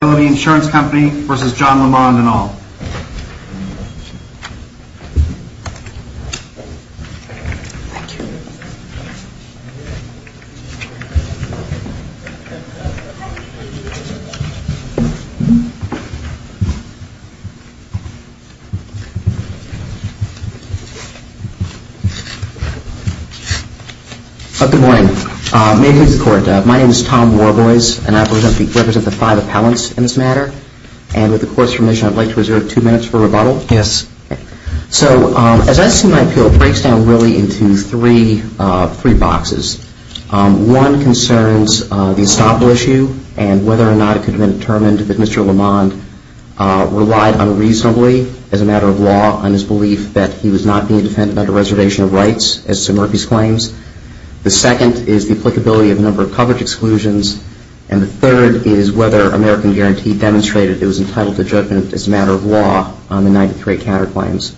Good morning. May it please the Court, my name is Tom Warboys, and I represent the five appellants in this matter. And with the Court's permission, I'd like to reserve two minutes for rebuttal. So, as I see my appeal, it breaks down really into three boxes. One concerns the estoppel issue and whether or not it could have been determined that Mr. Lamond relied unreasonably, as a matter of law, on his belief that he was not being defended under reservation of rights, as Sir Murphy's claims. The second is the applicability of a number of coverage exclusions, and the third is whether American Guarantee demonstrated it was entitled to judgment as a matter of law on the 93 counterclaims.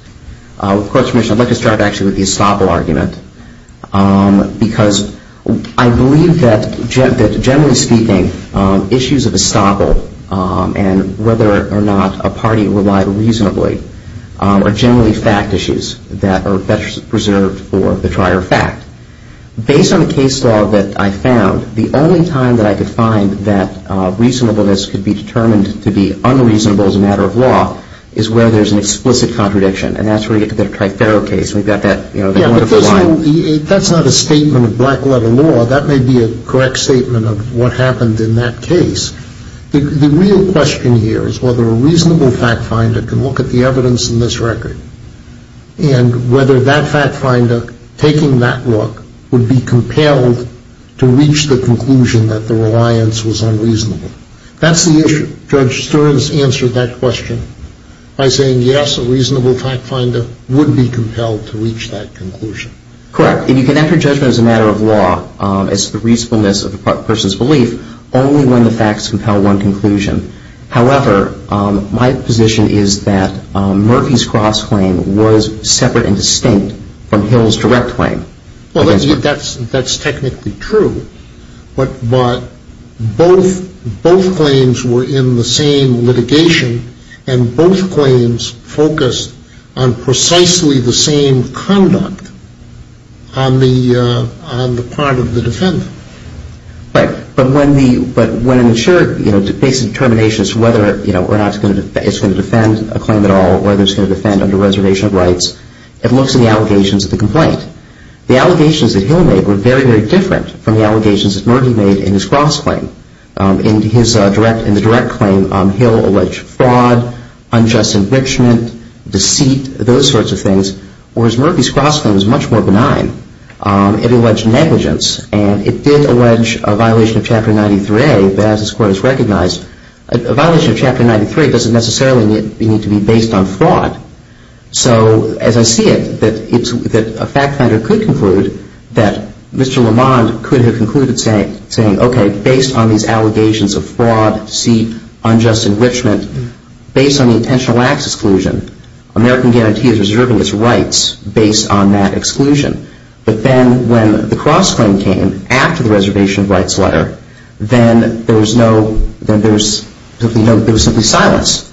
With the Court's permission, I'd like to start, actually, with the estoppel argument, because I believe that, generally speaking, issues of estoppel and whether or not a party relied reasonably are generally fact issues that are better preserved for the trier fact. Based on the case law that I found, the only time that I could find that reasonableness could be determined to be unreasonable as a matter of law is where there's an explicit contradiction, and that's where you get to the Triferro case, and we've got that wonderful line. So that's not a statement of black letter law. That may be a correct statement of what happened in that case. The real question here is whether a reasonable fact finder can look at the evidence in this record and whether that fact finder, taking that look, would be compelled to reach the conclusion that the reliance was unreasonable. That's the issue. Judge Stearns answered that question by saying, yes, a reasonable fact finder would be compelled to reach that conclusion. Correct, and you can enter judgment as a matter of law as to the reasonableness of a person's belief only when the facts compel one conclusion. However, my position is that Murphy's cross-claim was separate and distinct from Hill's direct claim. Well, that's technically true, but both claims were in the same litigation, and both claims focused on precisely the same conduct on the part of the defendant. Right, but when an insurer makes a determination as to whether or not it's going to defend a claim at all, whether it's going to defend under reservation of rights, it looks at the allegations of the complaint. The allegations that Hill made were very, very different from the allegations that Murphy made in his cross-claim. In the direct claim, Hill alleged fraud, unjust enrichment, deceit, those sorts of things, whereas Murphy's cross-claim was much more benign. It alleged negligence, and it did allege a violation of Chapter 93, as this Court has recognized. A violation of Chapter 93 doesn't necessarily need to be based on fraud. So as I see it, that a fact finder could conclude that Mr. Lamond could have concluded saying, okay, based on these allegations of fraud, deceit, unjust enrichment, based on the intentional acts exclusion, American guarantee is reserving its rights based on that exclusion. But then when the cross-claim came after the reservation of rights letter, then there was simply silence.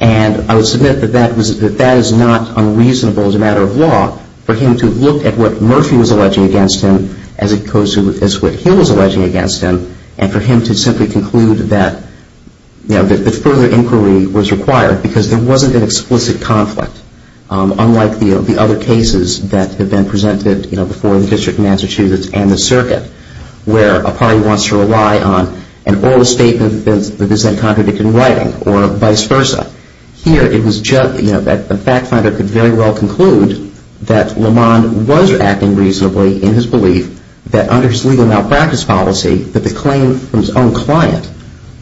And I would submit that that is not unreasonable as a matter of law for him to look at what Murphy was alleging against him as opposed to what Hill was alleging against him, and for him to simply conclude that further inquiry was required, because there wasn't an explicit conflict, unlike the other cases that have been presented before the District of Massachusetts and the Circuit, where a party wants to rely on an oral statement that is then contradicted in writing, or vice versa. Here it was judged that a fact finder could very well conclude that Lamond was acting reasonably in his belief that under his legal malpractice policy, that the claim from his own client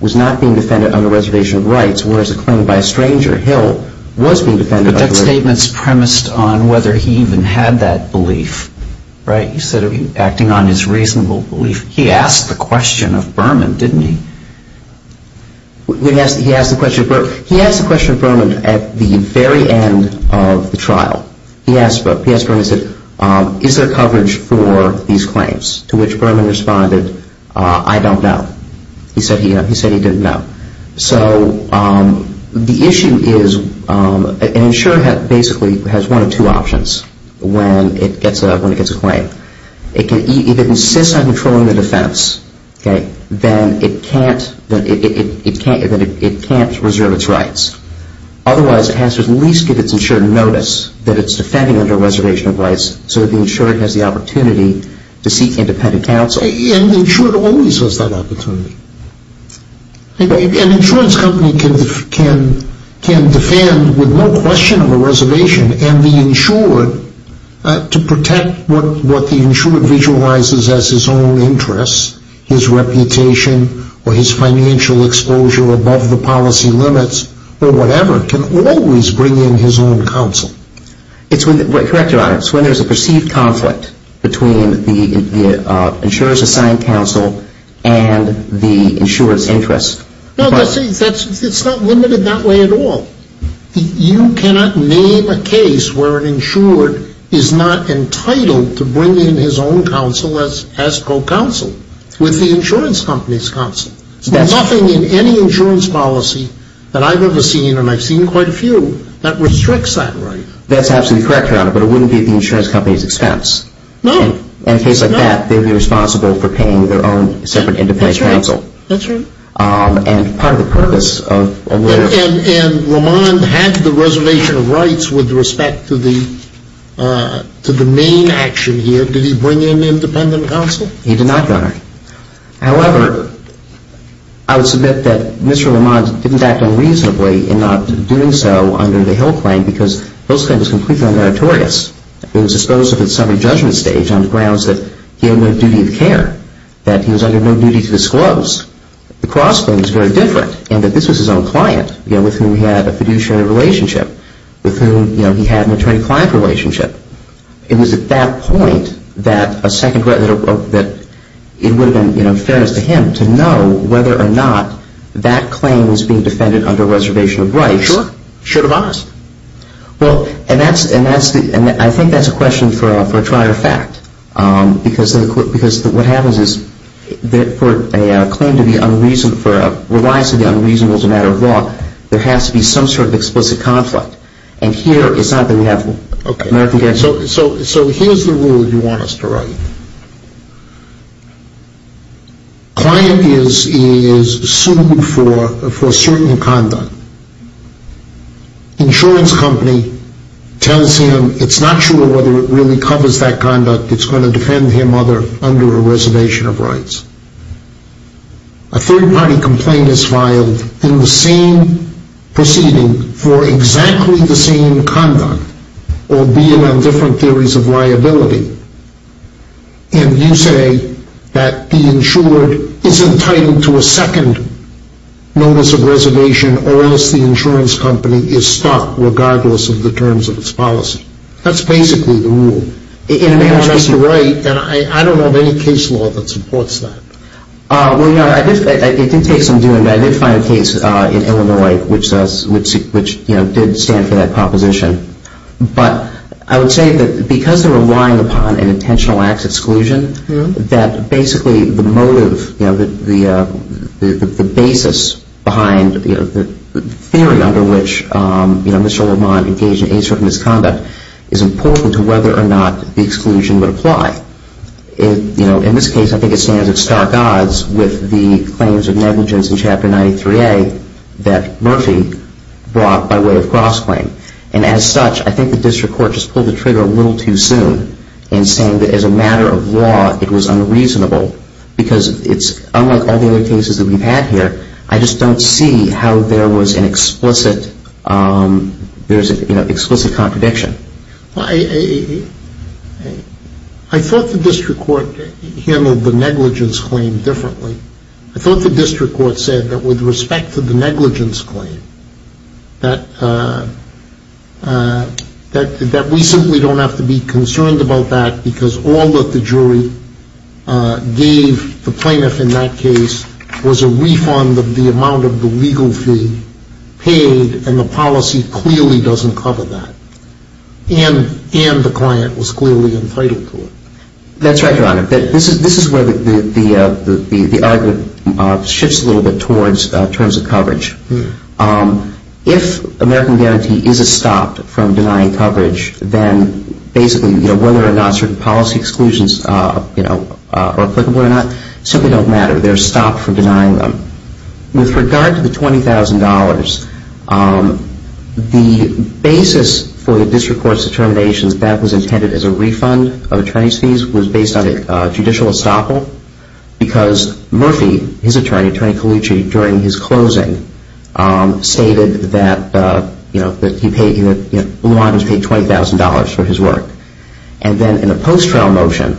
was not being defended under reservation of rights, whereas a claim by a stranger, Hill, was being defended under reservation of rights. But that statement is premised on whether he even had that belief, right? He said he was acting on his reasonable belief. He asked the question of Berman, didn't he? He asked the question of Berman at the very end of the trial. He asked Berman, he said, is there coverage for these claims? To which Berman responded, I don't know. He said he didn't know. So the issue is an insurer basically has one of two options when it gets a claim. If it insists on controlling the defense, then it can't reserve its rights. Otherwise, it has to at least give its insured notice that it's defending under reservation of rights so the insured has the opportunity to seek independent counsel. And the insured always has that opportunity. An insurance company can defend with no question of a reservation, and the insured, to protect what the insured visualizes as his own interests, his reputation, or his financial exposure above the policy limits, or whatever, can always bring in his own counsel. Correct Your Honor, it's when there's a perceived conflict between the insurer's assigned counsel and the insured's interests. No, it's not limited that way at all. You cannot name a case where an insured is not entitled to bring in his own counsel as co-counsel with the insurance company's counsel. There's nothing in any insurance policy that I've ever seen, and I've seen quite a few, that restricts that right. That's absolutely correct, Your Honor, but it wouldn't be at the insurance company's expense. No. In a case like that, they'd be responsible for paying their own separate independent counsel. That's right. And part of the purpose of a lawyer... And Roman had the reservation of rights with respect to the main action here. Did he bring in independent counsel? He did not, Your Honor. However, I would submit that Mr. Roman didn't act unreasonably in not doing so under the Hill claim, because Hill's claim was completely uneritorious. It was disposed of at summary judgment stage on the grounds that he had no duty of care, that he was under no duty to disclose. The Cross claim is very different in that this was his own client with whom he had a fiduciary relationship, with whom he had an attorney-client relationship. It was at that point that it would have been, you know, fairness to him to know whether or not that claim was being defended under reservation of rights. Sure. Should have asked. Well, and I think that's a question for a trier fact, because what happens is for a claim to be unreasonable, for a reliance on the unreasonable as a matter of law, there has to be some sort of explicit conflict. And here it's not that we have one. Okay. So here's the rule you want us to write. Client is sued for certain conduct. Insurance company tells him it's not sure whether it really covers that conduct. A third-party complaint is filed in the same proceeding for exactly the same conduct, albeit on different theories of liability. And you say that the insured is entitled to a second notice of reservation, or else the insurance company is stuck, regardless of the terms of its policy. That's basically the rule. I don't know of any case law that supports that. Well, you know, it did take some doing, but I did find a case in Illinois which did stand for that proposition. But I would say that because they're relying upon an intentional acts exclusion, that basically the motive, you know, the basis behind the theory under which, you know, Mr. Lamont engaged in a certain misconduct is important to whether or not the exclusion would apply. You know, in this case, I think it stands at stark odds with the claims of negligence in Chapter 93A that Murphy brought by way of cross-claim. And as such, I think the district court just pulled the trigger a little too soon in saying that as a matter of law, it was unreasonable. Because it's unlike all the other cases that we've had here, I just don't see how there was an explicit, you know, explicit contradiction. I thought the district court handled the negligence claim differently. I thought the district court said that with respect to the negligence claim, that we simply don't have to be concerned about that because all that the jury gave the plaintiff in that case was a refund of the amount of the legal fee paid. And the policy clearly doesn't cover that. And the client was clearly entitled to it. That's right, Your Honor. This is where the argument shifts a little bit towards terms of coverage. If American Guarantee is stopped from denying coverage, then basically, you know, whether or not certain policy exclusions are applicable or not simply don't matter. They're stopped from denying them. With regard to the $20,000, the basis for the district court's determination that that was intended as a refund of attorney's fees was based on a judicial estoppel because Murphy, his attorney, Attorney Colucci, during his closing stated that, you know, that he paid, you know, Luan was paid $20,000 for his work. And then in a post-trial motion,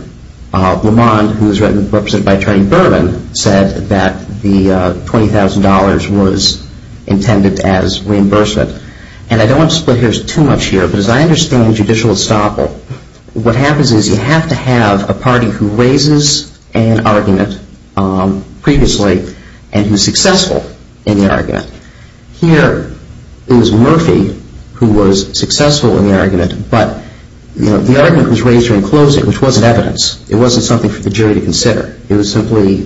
Luan, who was represented by Attorney Berman, said that the $20,000 was intended as reimbursement. And I don't want to split hairs too much here, but as I understand judicial estoppel, what happens is you have to have a party who raises an argument previously and who's successful in the argument. Here, it was Murphy who was successful in the argument, but, you know, the argument was raised during closing, which wasn't evidence. It wasn't something for the jury to consider. It was simply,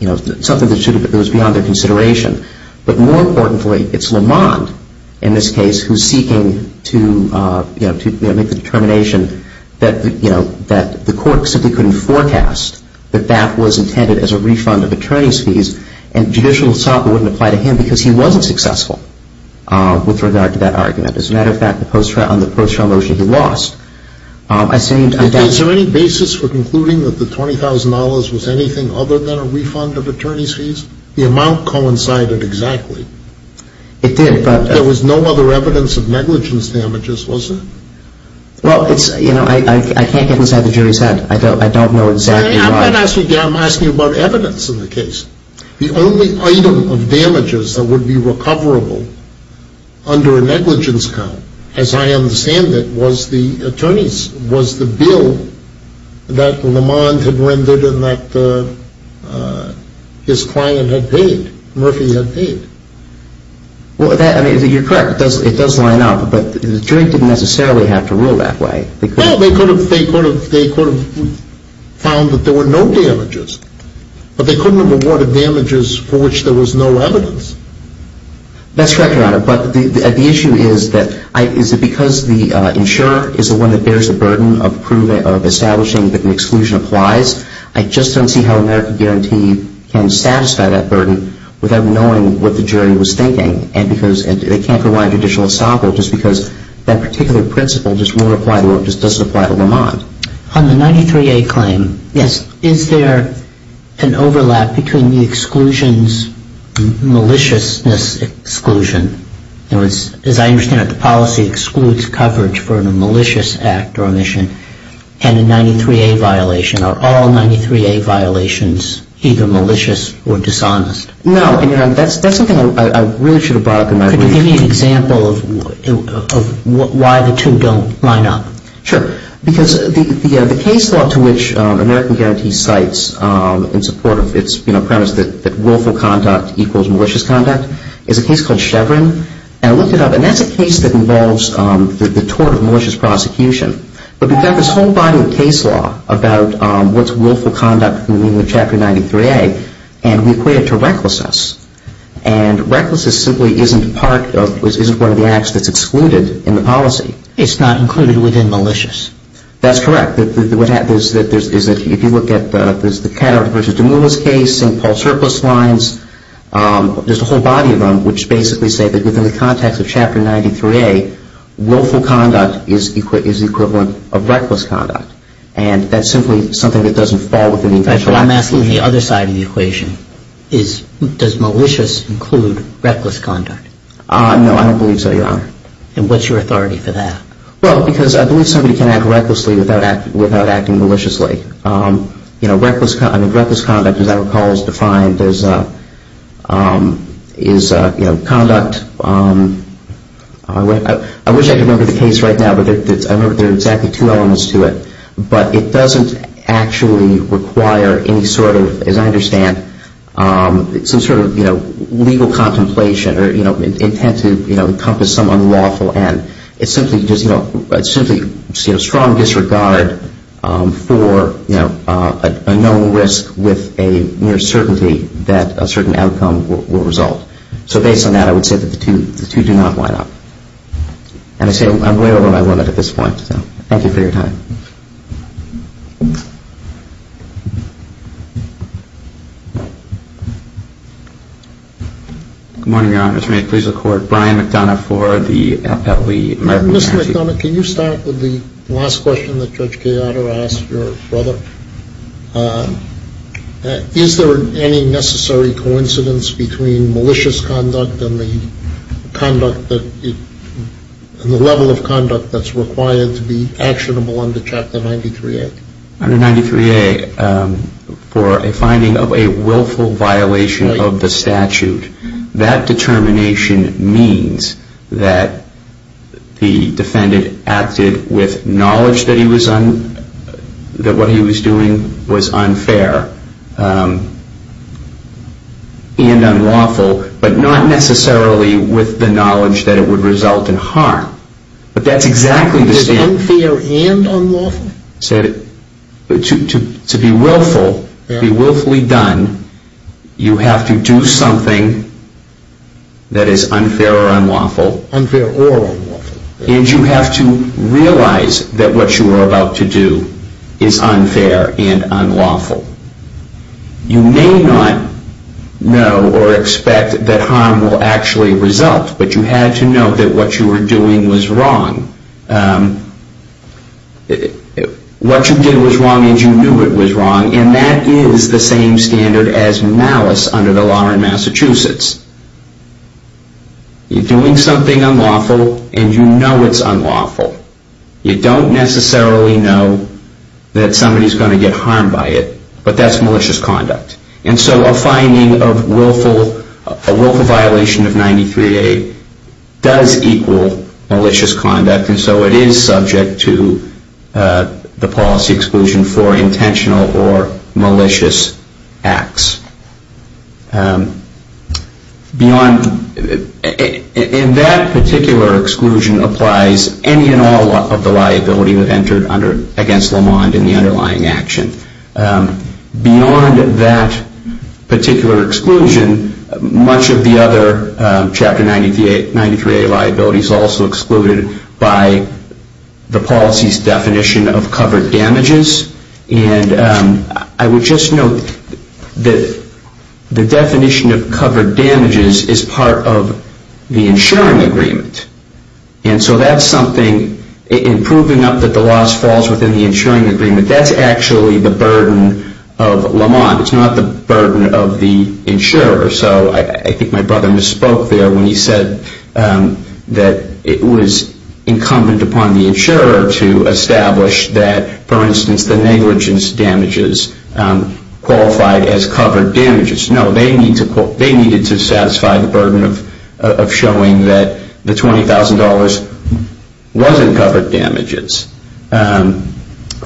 you know, something that was beyond their consideration. But more importantly, it's Lamond in this case who's seeking to, you know, make the determination that, you know, that the court simply couldn't forecast that that was intended as a refund of attorney's fees and judicial estoppel wouldn't apply to him because he wasn't successful with regard to that argument. As a matter of fact, on the post-trial motion, he lost. Is there any basis for concluding that the $20,000 was anything other than a refund of attorney's fees? The amount coincided exactly. It did, but... There was no other evidence of negligence damages, was there? Well, it's, you know, I can't get inside the jury's head. I don't know exactly why... I'm asking you about evidence in the case. The only item of damages that would be recoverable under a negligence count, as I understand it, was the bill that Lamond had rendered and that his client had paid, Murphy had paid. Well, you're correct. It does line up, but the jury didn't necessarily have to rule that way. Well, they could have found that there were no damages, but they couldn't have awarded damages for which there was no evidence. That's correct, Your Honor. But the issue is that because the insurer is the one that bears the burden of establishing that the exclusion applies, I just don't see how America Guaranteed can satisfy that burden without knowing what the jury was thinking. And because they can't provide judicial assable just because that particular principle just doesn't apply to Lamond. On the 93A claim... Yes. Is there an overlap between the exclusion's maliciousness exclusion? In other words, as I understand it, the policy excludes coverage for a malicious act or omission and a 93A violation. Are all 93A violations either malicious or dishonest? No, Your Honor. That's something I really should have brought up in my brief. Could you give me an example of why the two don't line up? Sure. Because the case law to which America Guaranteed cites in support of its, you know, premise that willful conduct equals malicious conduct is a case called Chevron. And I looked it up, and that's a case that involves the tort of malicious prosecution. But we've got this whole body of case law about what's willful conduct in the chapter 93A, and we equate it to recklessness. And recklessness simply isn't part of, isn't one of the acts that's excluded in the policy. It's not included within malicious. That's correct. What happens is that if you look at the Cattara versus DeMoula's case, St. Paul Surplus lines, there's a whole body of them which basically say that within the context of Chapter 93A, willful conduct is the equivalent of reckless conduct. And that's simply something that doesn't fall within the intention. I'm asking the other side of the equation. Does malicious include reckless conduct? No, I don't believe so, Your Honor. And what's your authority for that? Well, because I believe somebody can act recklessly without acting maliciously. You know, reckless conduct, as I recall, is defined as conduct. I wish I could remember the case right now, but I remember there are exactly two elements to it. But it doesn't actually require any sort of, as I understand, some sort of legal contemplation or intent to encompass some unlawful end. It's simply strong disregard for a known risk with a near certainty that a certain outcome will result. So based on that, I would say that the two do not line up. And I say I'm way over my limit at this point, so thank you for your time. Good morning, Your Honor. This may please the Court. Brian McDonough for the Appellee American Counsel. Mr. McDonough, can you start with the last question that Judge Cayotto asked your brother? Is there any necessary coincidence between malicious conduct and the conduct that the level of conduct that's required to be actionable Under 93A, for a finding of a willful violation of the statute, that determination means that the defendant acted with knowledge that what he was doing was unfair and unlawful, but not necessarily with the knowledge that it would result in harm. Is it unfair and unlawful? To be willfully done, you have to do something that is unfair or unlawful, and you have to realize that what you are about to do is unfair and unlawful. You may not know or expect that harm will actually result, but you have to know that what you were doing was wrong. What you did was wrong and you knew it was wrong, and that is the same standard as malice under the law in Massachusetts. You're doing something unlawful and you know it's unlawful. You don't necessarily know that somebody's going to get harmed by it, but that's malicious conduct. And so a finding of a willful violation of 93A does equal malicious conduct, and so it is subject to the policy exclusion for intentional or malicious acts. In that particular exclusion applies any and all of the liability that entered against Lamond in the underlying action. Beyond that particular exclusion, much of the other Chapter 93A liabilities are also excluded by the policy's definition of covered damages, and I would just note that the definition of covered damages is part of the insuring agreement. And so that's something, in proving up that the loss falls within the insuring agreement, that's actually the burden of Lamond. It's not the burden of the insurer. So I think my brother misspoke there when he said that it was incumbent upon the insurer to establish that, for instance, the negligence damages qualified as covered damages. No, they needed to satisfy the burden of showing that the $20,000 wasn't covered damages.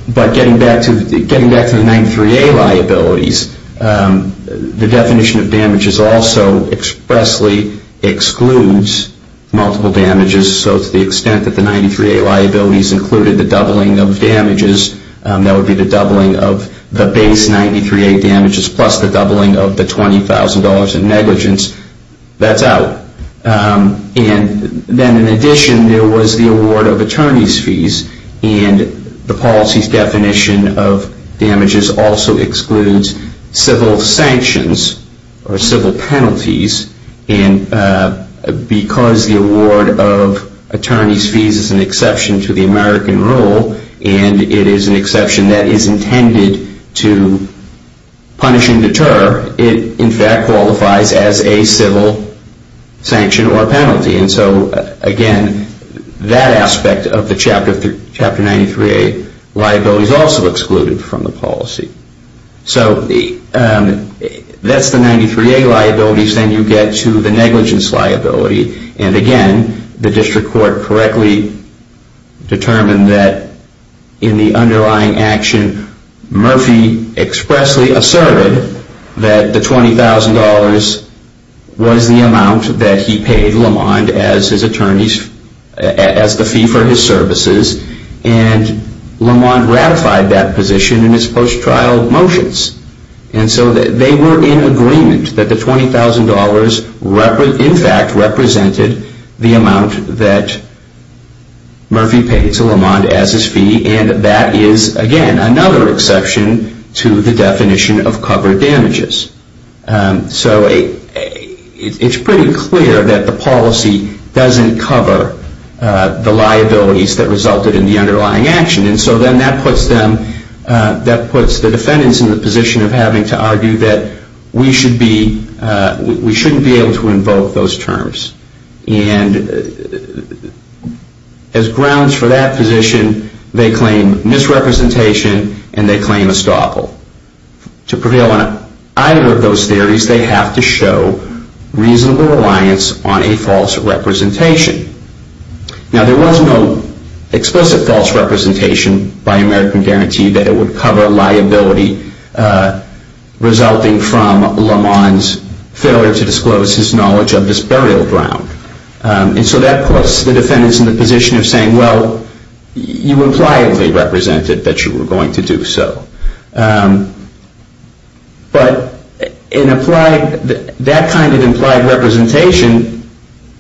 But getting back to the 93A liabilities, the definition of damages also expressly excludes multiple damages. So to the extent that the 93A liabilities included the doubling of damages, that would be the doubling of the base 93A damages plus the doubling of the $20,000 in negligence, that's out. And then in addition, there was the award of attorney's fees, and the policy's definition of damages also excludes civil sanctions or civil penalties. And because the award of attorney's fees is an exception to the American rule, and it is an exception that is intended to punish and deter, it in fact qualifies as a civil sanction or penalty. And so again, that aspect of the Chapter 93A liabilities also excluded from the policy. So that's the 93A liabilities. Then you get to the negligence liability. And again, the district court correctly determined that in the underlying action, Murphy expressly asserted that the $20,000 was the amount that he paid Lamond as the fee for his services, and Lamond ratified that position in his post-trial motions. And so they were in agreement that the $20,000 in fact represented the amount that Murphy paid to Lamond as his fee, and that is again another exception to the definition of covered damages. So it's pretty clear that the policy doesn't cover the liabilities that resulted in the underlying action. And so then that puts the defendants in the position of having to argue that we shouldn't be able to invoke those terms. And as grounds for that position, they claim misrepresentation and they claim estoppel. To prevail on either of those theories, they have to show reasonable reliance on a false representation. Now there was no explicit false representation by American Guarantee that it would cover liability resulting from Lamond's failure to disclose his knowledge of this burial ground. And so that puts the defendants in the position of saying, well, you impliedly represented that you were going to do so. But that kind of implied representation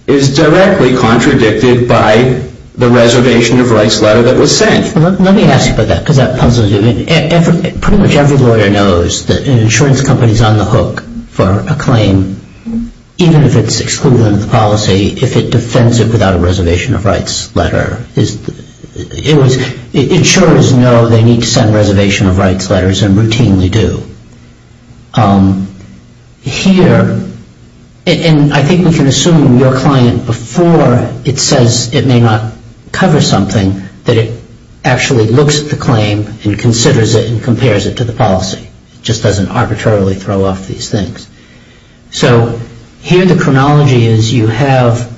is directly contradicted by the reservation of rights letter that was sent. Let me ask you about that because that puzzles you. Pretty much every lawyer knows that an insurance company is on the hook for a claim, even if it's excluded under the policy, if it defends it without a reservation of rights letter. Insurers know they need to send reservation of rights letters and routinely do. Here, and I think we can assume your client before it says it may not cover something, that it actually looks at the claim and considers it and compares it to the policy. It just doesn't arbitrarily throw off these things. So here the chronology is you have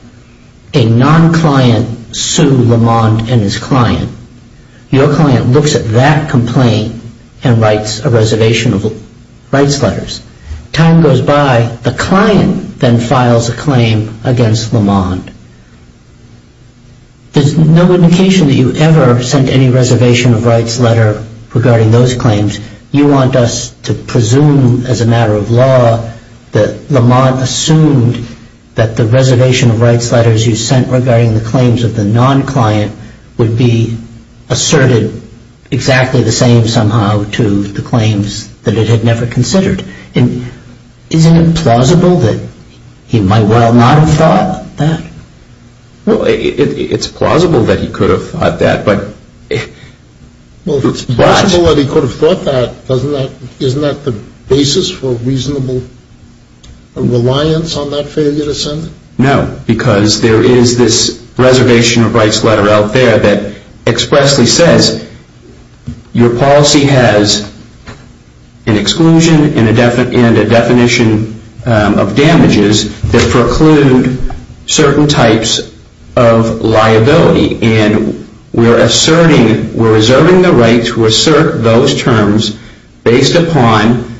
a non-client sue Lamond and his client. Your client looks at that complaint and writes a reservation of rights letters. Time goes by. The client then files a claim against Lamond. There's no indication that you ever sent any reservation of rights letter regarding those claims. You want us to presume as a matter of law that Lamond assumed that the reservation of rights letters you sent regarding the claims of the non-client would be asserted exactly the same somehow to the claims that it had never considered. Isn't it plausible that he might well not have thought that? Well, it's plausible that he could have thought that. Well, if it's plausible that he could have thought that, isn't that the basis for reasonable reliance on that failure to send? No, because there is this reservation of rights letter out there that expressly says your policy has an exclusion and a definition of damages that preclude certain types of liability. And we're asserting, we're reserving the right to assert those terms based upon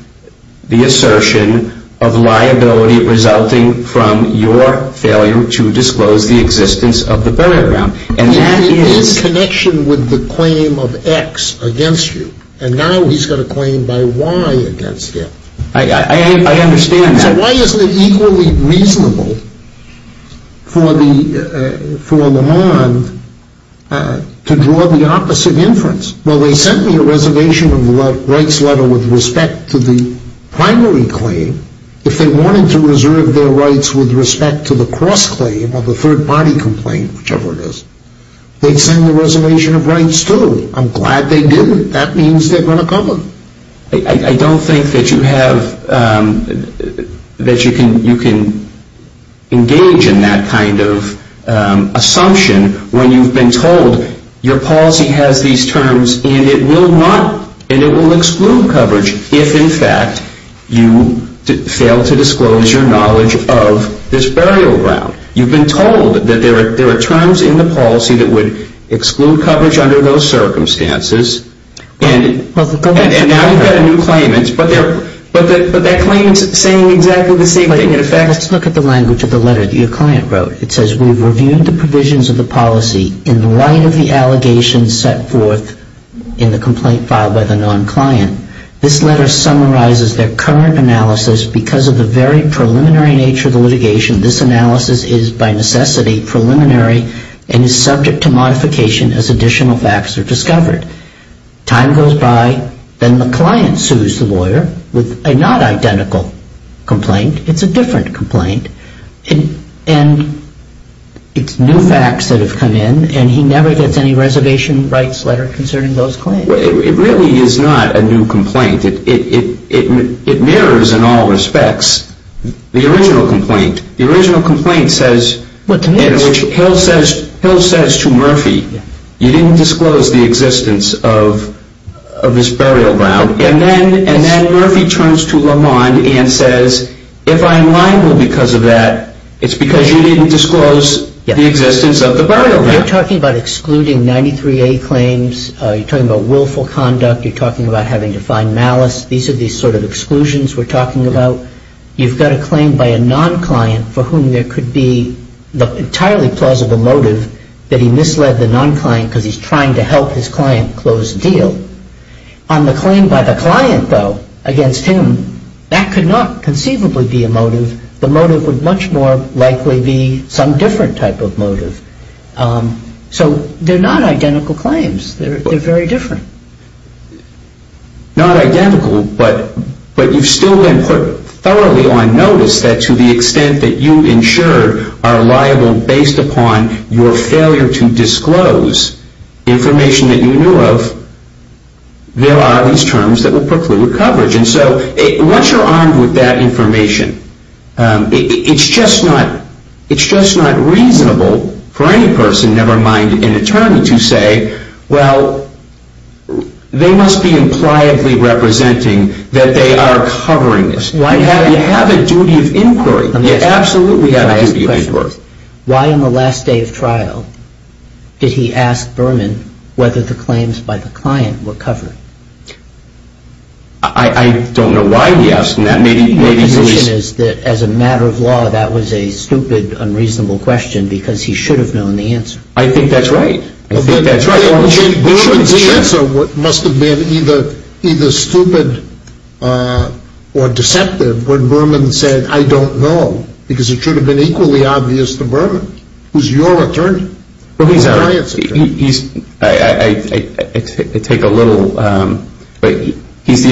the assertion of liability resulting from your failure to disclose the existence of the burial ground. And that is connection with the claim of X against you. And now he's got a claim by Y against him. I understand that. Why isn't it equally reasonable for Lamond to draw the opposite inference? Well, they sent me a reservation of rights letter with respect to the primary claim. If they wanted to reserve their rights with respect to the cross-claim or the third-party complaint, whichever it is, they'd send the reservation of rights, too. I'm glad they didn't. That means they're going to cover them. I don't think that you have, that you can engage in that kind of assumption when you've been told your policy has these terms and it will exclude coverage if, in fact, you fail to disclose your knowledge of this burial ground. You've been told that there are terms in the policy that would exclude coverage under those circumstances. And now you've got a new claim. But that claim is saying exactly the same thing. Let's look at the language of the letter that your client wrote. It says, we've reviewed the provisions of the policy in light of the allegations set forth in the complaint filed by the non-client. This letter summarizes their current analysis. Because of the very preliminary nature of the litigation, this analysis is by necessity preliminary and is subject to modification as additional facts are discovered. Time goes by. Then the client sues the lawyer with a not-identical complaint. It's a different complaint. And it's new facts that have come in. And he never gets any reservation rights letter concerning those claims. It really is not a new complaint. It mirrors, in all respects, the original complaint. The original complaint says, in which Hill says to Murphy, you didn't disclose the existence of this burial ground. And then Murphy turns to Lamond and says, if I am liable because of that, it's because you didn't disclose the existence of the burial ground. You're talking about excluding 93A claims. You're talking about willful conduct. You're talking about having to find malice. These are the sort of exclusions we're talking about. So you've got a claim by a non-client for whom there could be the entirely plausible motive that he misled the non-client because he's trying to help his client close the deal. On the claim by the client, though, against him, that could not conceivably be a motive. The motive would much more likely be some different type of motive. So they're not identical claims. They're very different. Not identical, but you've still been put thoroughly on notice that to the extent that you ensured are liable based upon your failure to disclose information that you knew of, there are these terms that would preclude coverage. And so once you're armed with that information, it's just not reasonable for any person, never mind an attorney, to say, well, they must be impliably representing that they are covering this. You have a duty of inquiry. You absolutely have a duty of inquiry. Let me ask you a question. Why on the last day of trial did he ask Berman whether the claims by the client were covered? I don't know why he asked. My position is that as a matter of law, that was a stupid, unreasonable question because he should have known the answer. I think that's right. I think that's right. Berman's answer must have been either stupid or deceptive when Berman said, I don't know, because it should have been equally obvious to Berman, who's your attorney. He's the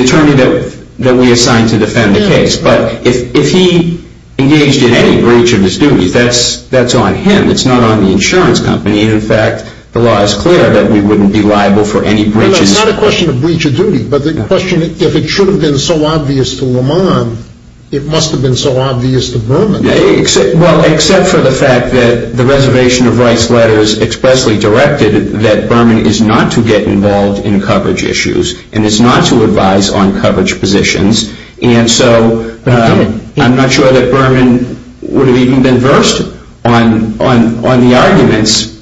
attorney that we assigned to defend the case. But if he engaged in any breach of his duties, that's on him. It's not on the insurance company. In fact, the law is clear that we wouldn't be liable for any breaches. It's not a question of breach of duty, but the question, if it should have been so obvious to Lamont, it must have been so obvious to Berman. Well, except for the fact that the Reservation of Rights letters expressly directed that Berman is not to get involved in coverage issues and is not to advise on coverage positions. But he did. I'm not sure that Berman would have even been versed on the arguments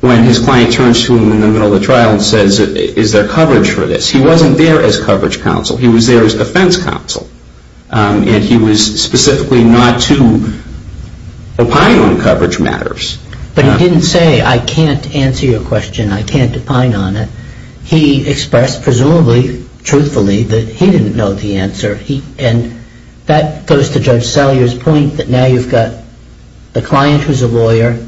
when his client turns to him in the middle of the trial and says, is there coverage for this? He wasn't there as coverage counsel. He was there as defense counsel, and he was specifically not to opine on coverage matters. But he didn't say, I can't answer your question, I can't opine on it. He expressed, presumably, truthfully, that he didn't know the answer. And that goes to Judge Sellier's point that now you've got the client who's a lawyer,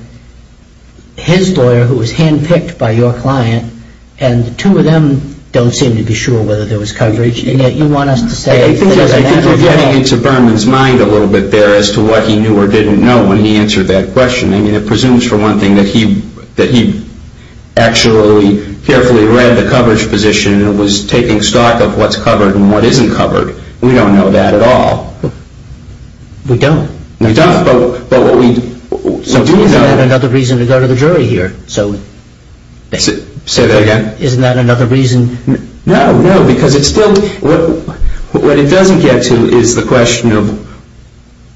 his lawyer who was hand-picked by your client, and the two of them don't seem to be sure whether there was coverage, and yet you want us to say that there's an evidence. I think we're getting into Berman's mind a little bit there as to what he knew or didn't know when he answered that question. I mean, it presumes, for one thing, that he actually carefully read the coverage position and was taking stock of what's covered and what isn't covered. We don't know that at all. We don't. We don't, but what we do know... Isn't that another reason to go to the jury here? Say that again? Isn't that another reason? No, no, because it's still... What it doesn't get to is the question of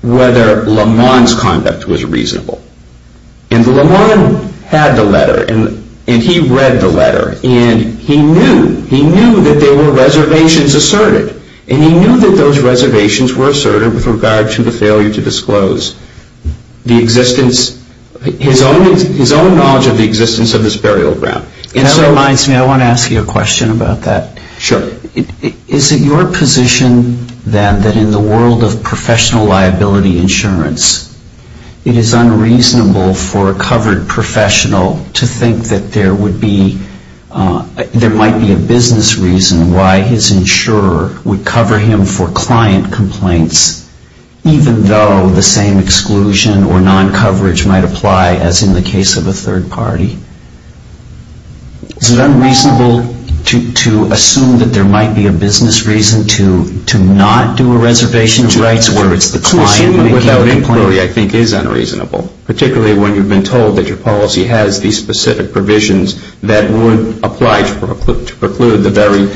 whether Lamont's conduct was reasonable. And Lamont had the letter, and he read the letter, and he knew that there were reservations asserted. And he knew that those reservations were asserted with regard to the failure to disclose the existence... his own knowledge of the existence of this burial ground. That reminds me, I want to ask you a question about that. Sure. Is it your position, then, that in the world of professional liability insurance, it is unreasonable for a covered professional to think that there would be... there might be a business reason why his insurer would cover him for client complaints, even though the same exclusion or non-coverage might apply, as in the case of a third party? Is it unreasonable to assume that there might be a business reason to not do a reservation of rights where it's the client making the complaint? Assuming without inquiry, I think, is unreasonable, particularly when you've been told that your policy has these specific provisions that would apply to preclude the very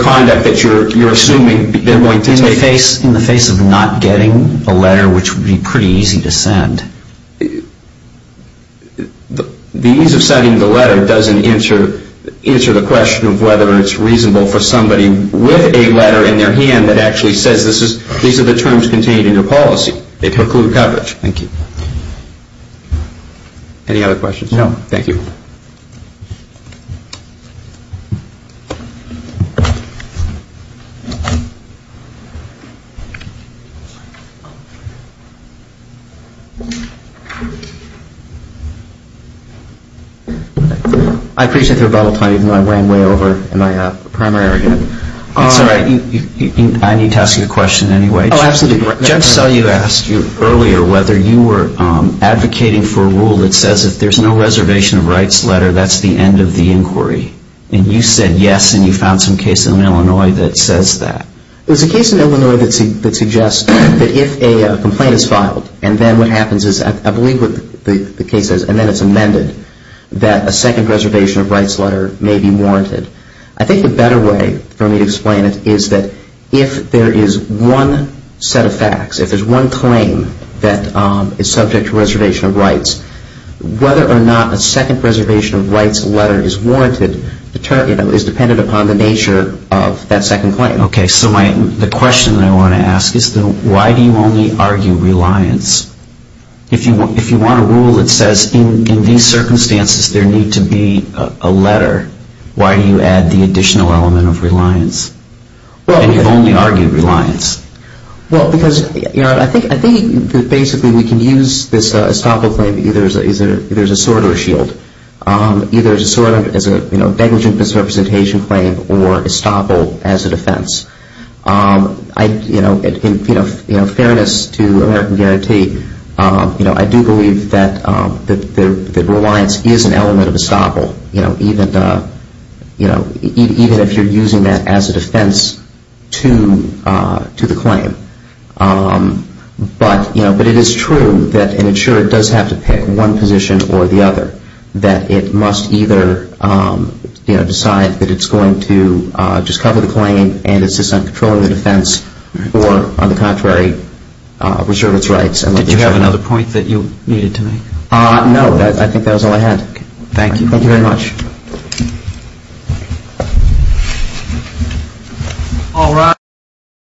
conduct that you're assuming In the face of not getting the letter, which would be pretty easy to send. The ease of sending the letter doesn't answer the question of whether it's reasonable for somebody with a letter in their hand that actually says these are the terms contained in your policy. They preclude coverage. Thank you. Any other questions? No. Thank you. Thank you. I appreciate your bubble time, even though I ran way over in my primary again. It's all right. I need to ask you a question anyway. Oh, absolutely. Just so you asked earlier whether you were advocating for a rule that says if there's no reservation of rights letter, that's the end of the inquiry. And you said yes, and you found some case in Illinois that says that. There's a case in Illinois that suggests that if a complaint is filed, and then what happens is, I believe what the case says, and then it's amended, that a second reservation of rights letter may be warranted. I think the better way for me to explain it is that if there is one set of facts, if there's one claim that is subject to reservation of rights, whether or not a second reservation of rights letter is warranted, is dependent upon the nature of that second claim. Okay. So the question that I want to ask is why do you only argue reliance? If you want a rule that says in these circumstances there need to be a letter, why do you add the additional element of reliance? And you've only argued reliance. Well, because I think basically we can use this estoppel claim either as a sword or a shield. Either as a sword, as a negligent misrepresentation claim, or estoppel as a defense. In fairness to American Guarantee, I do believe that reliance is an element of estoppel, even if you're using that as a defense to the claim. But it is true that an insurer does have to pick one position or the other, that it must either decide that it's going to just cover the claim and insist on controlling the defense or, on the contrary, reserve its rights. Did you have another point that you needed to make? No. I think that was all I had. Thank you very much. Thank you.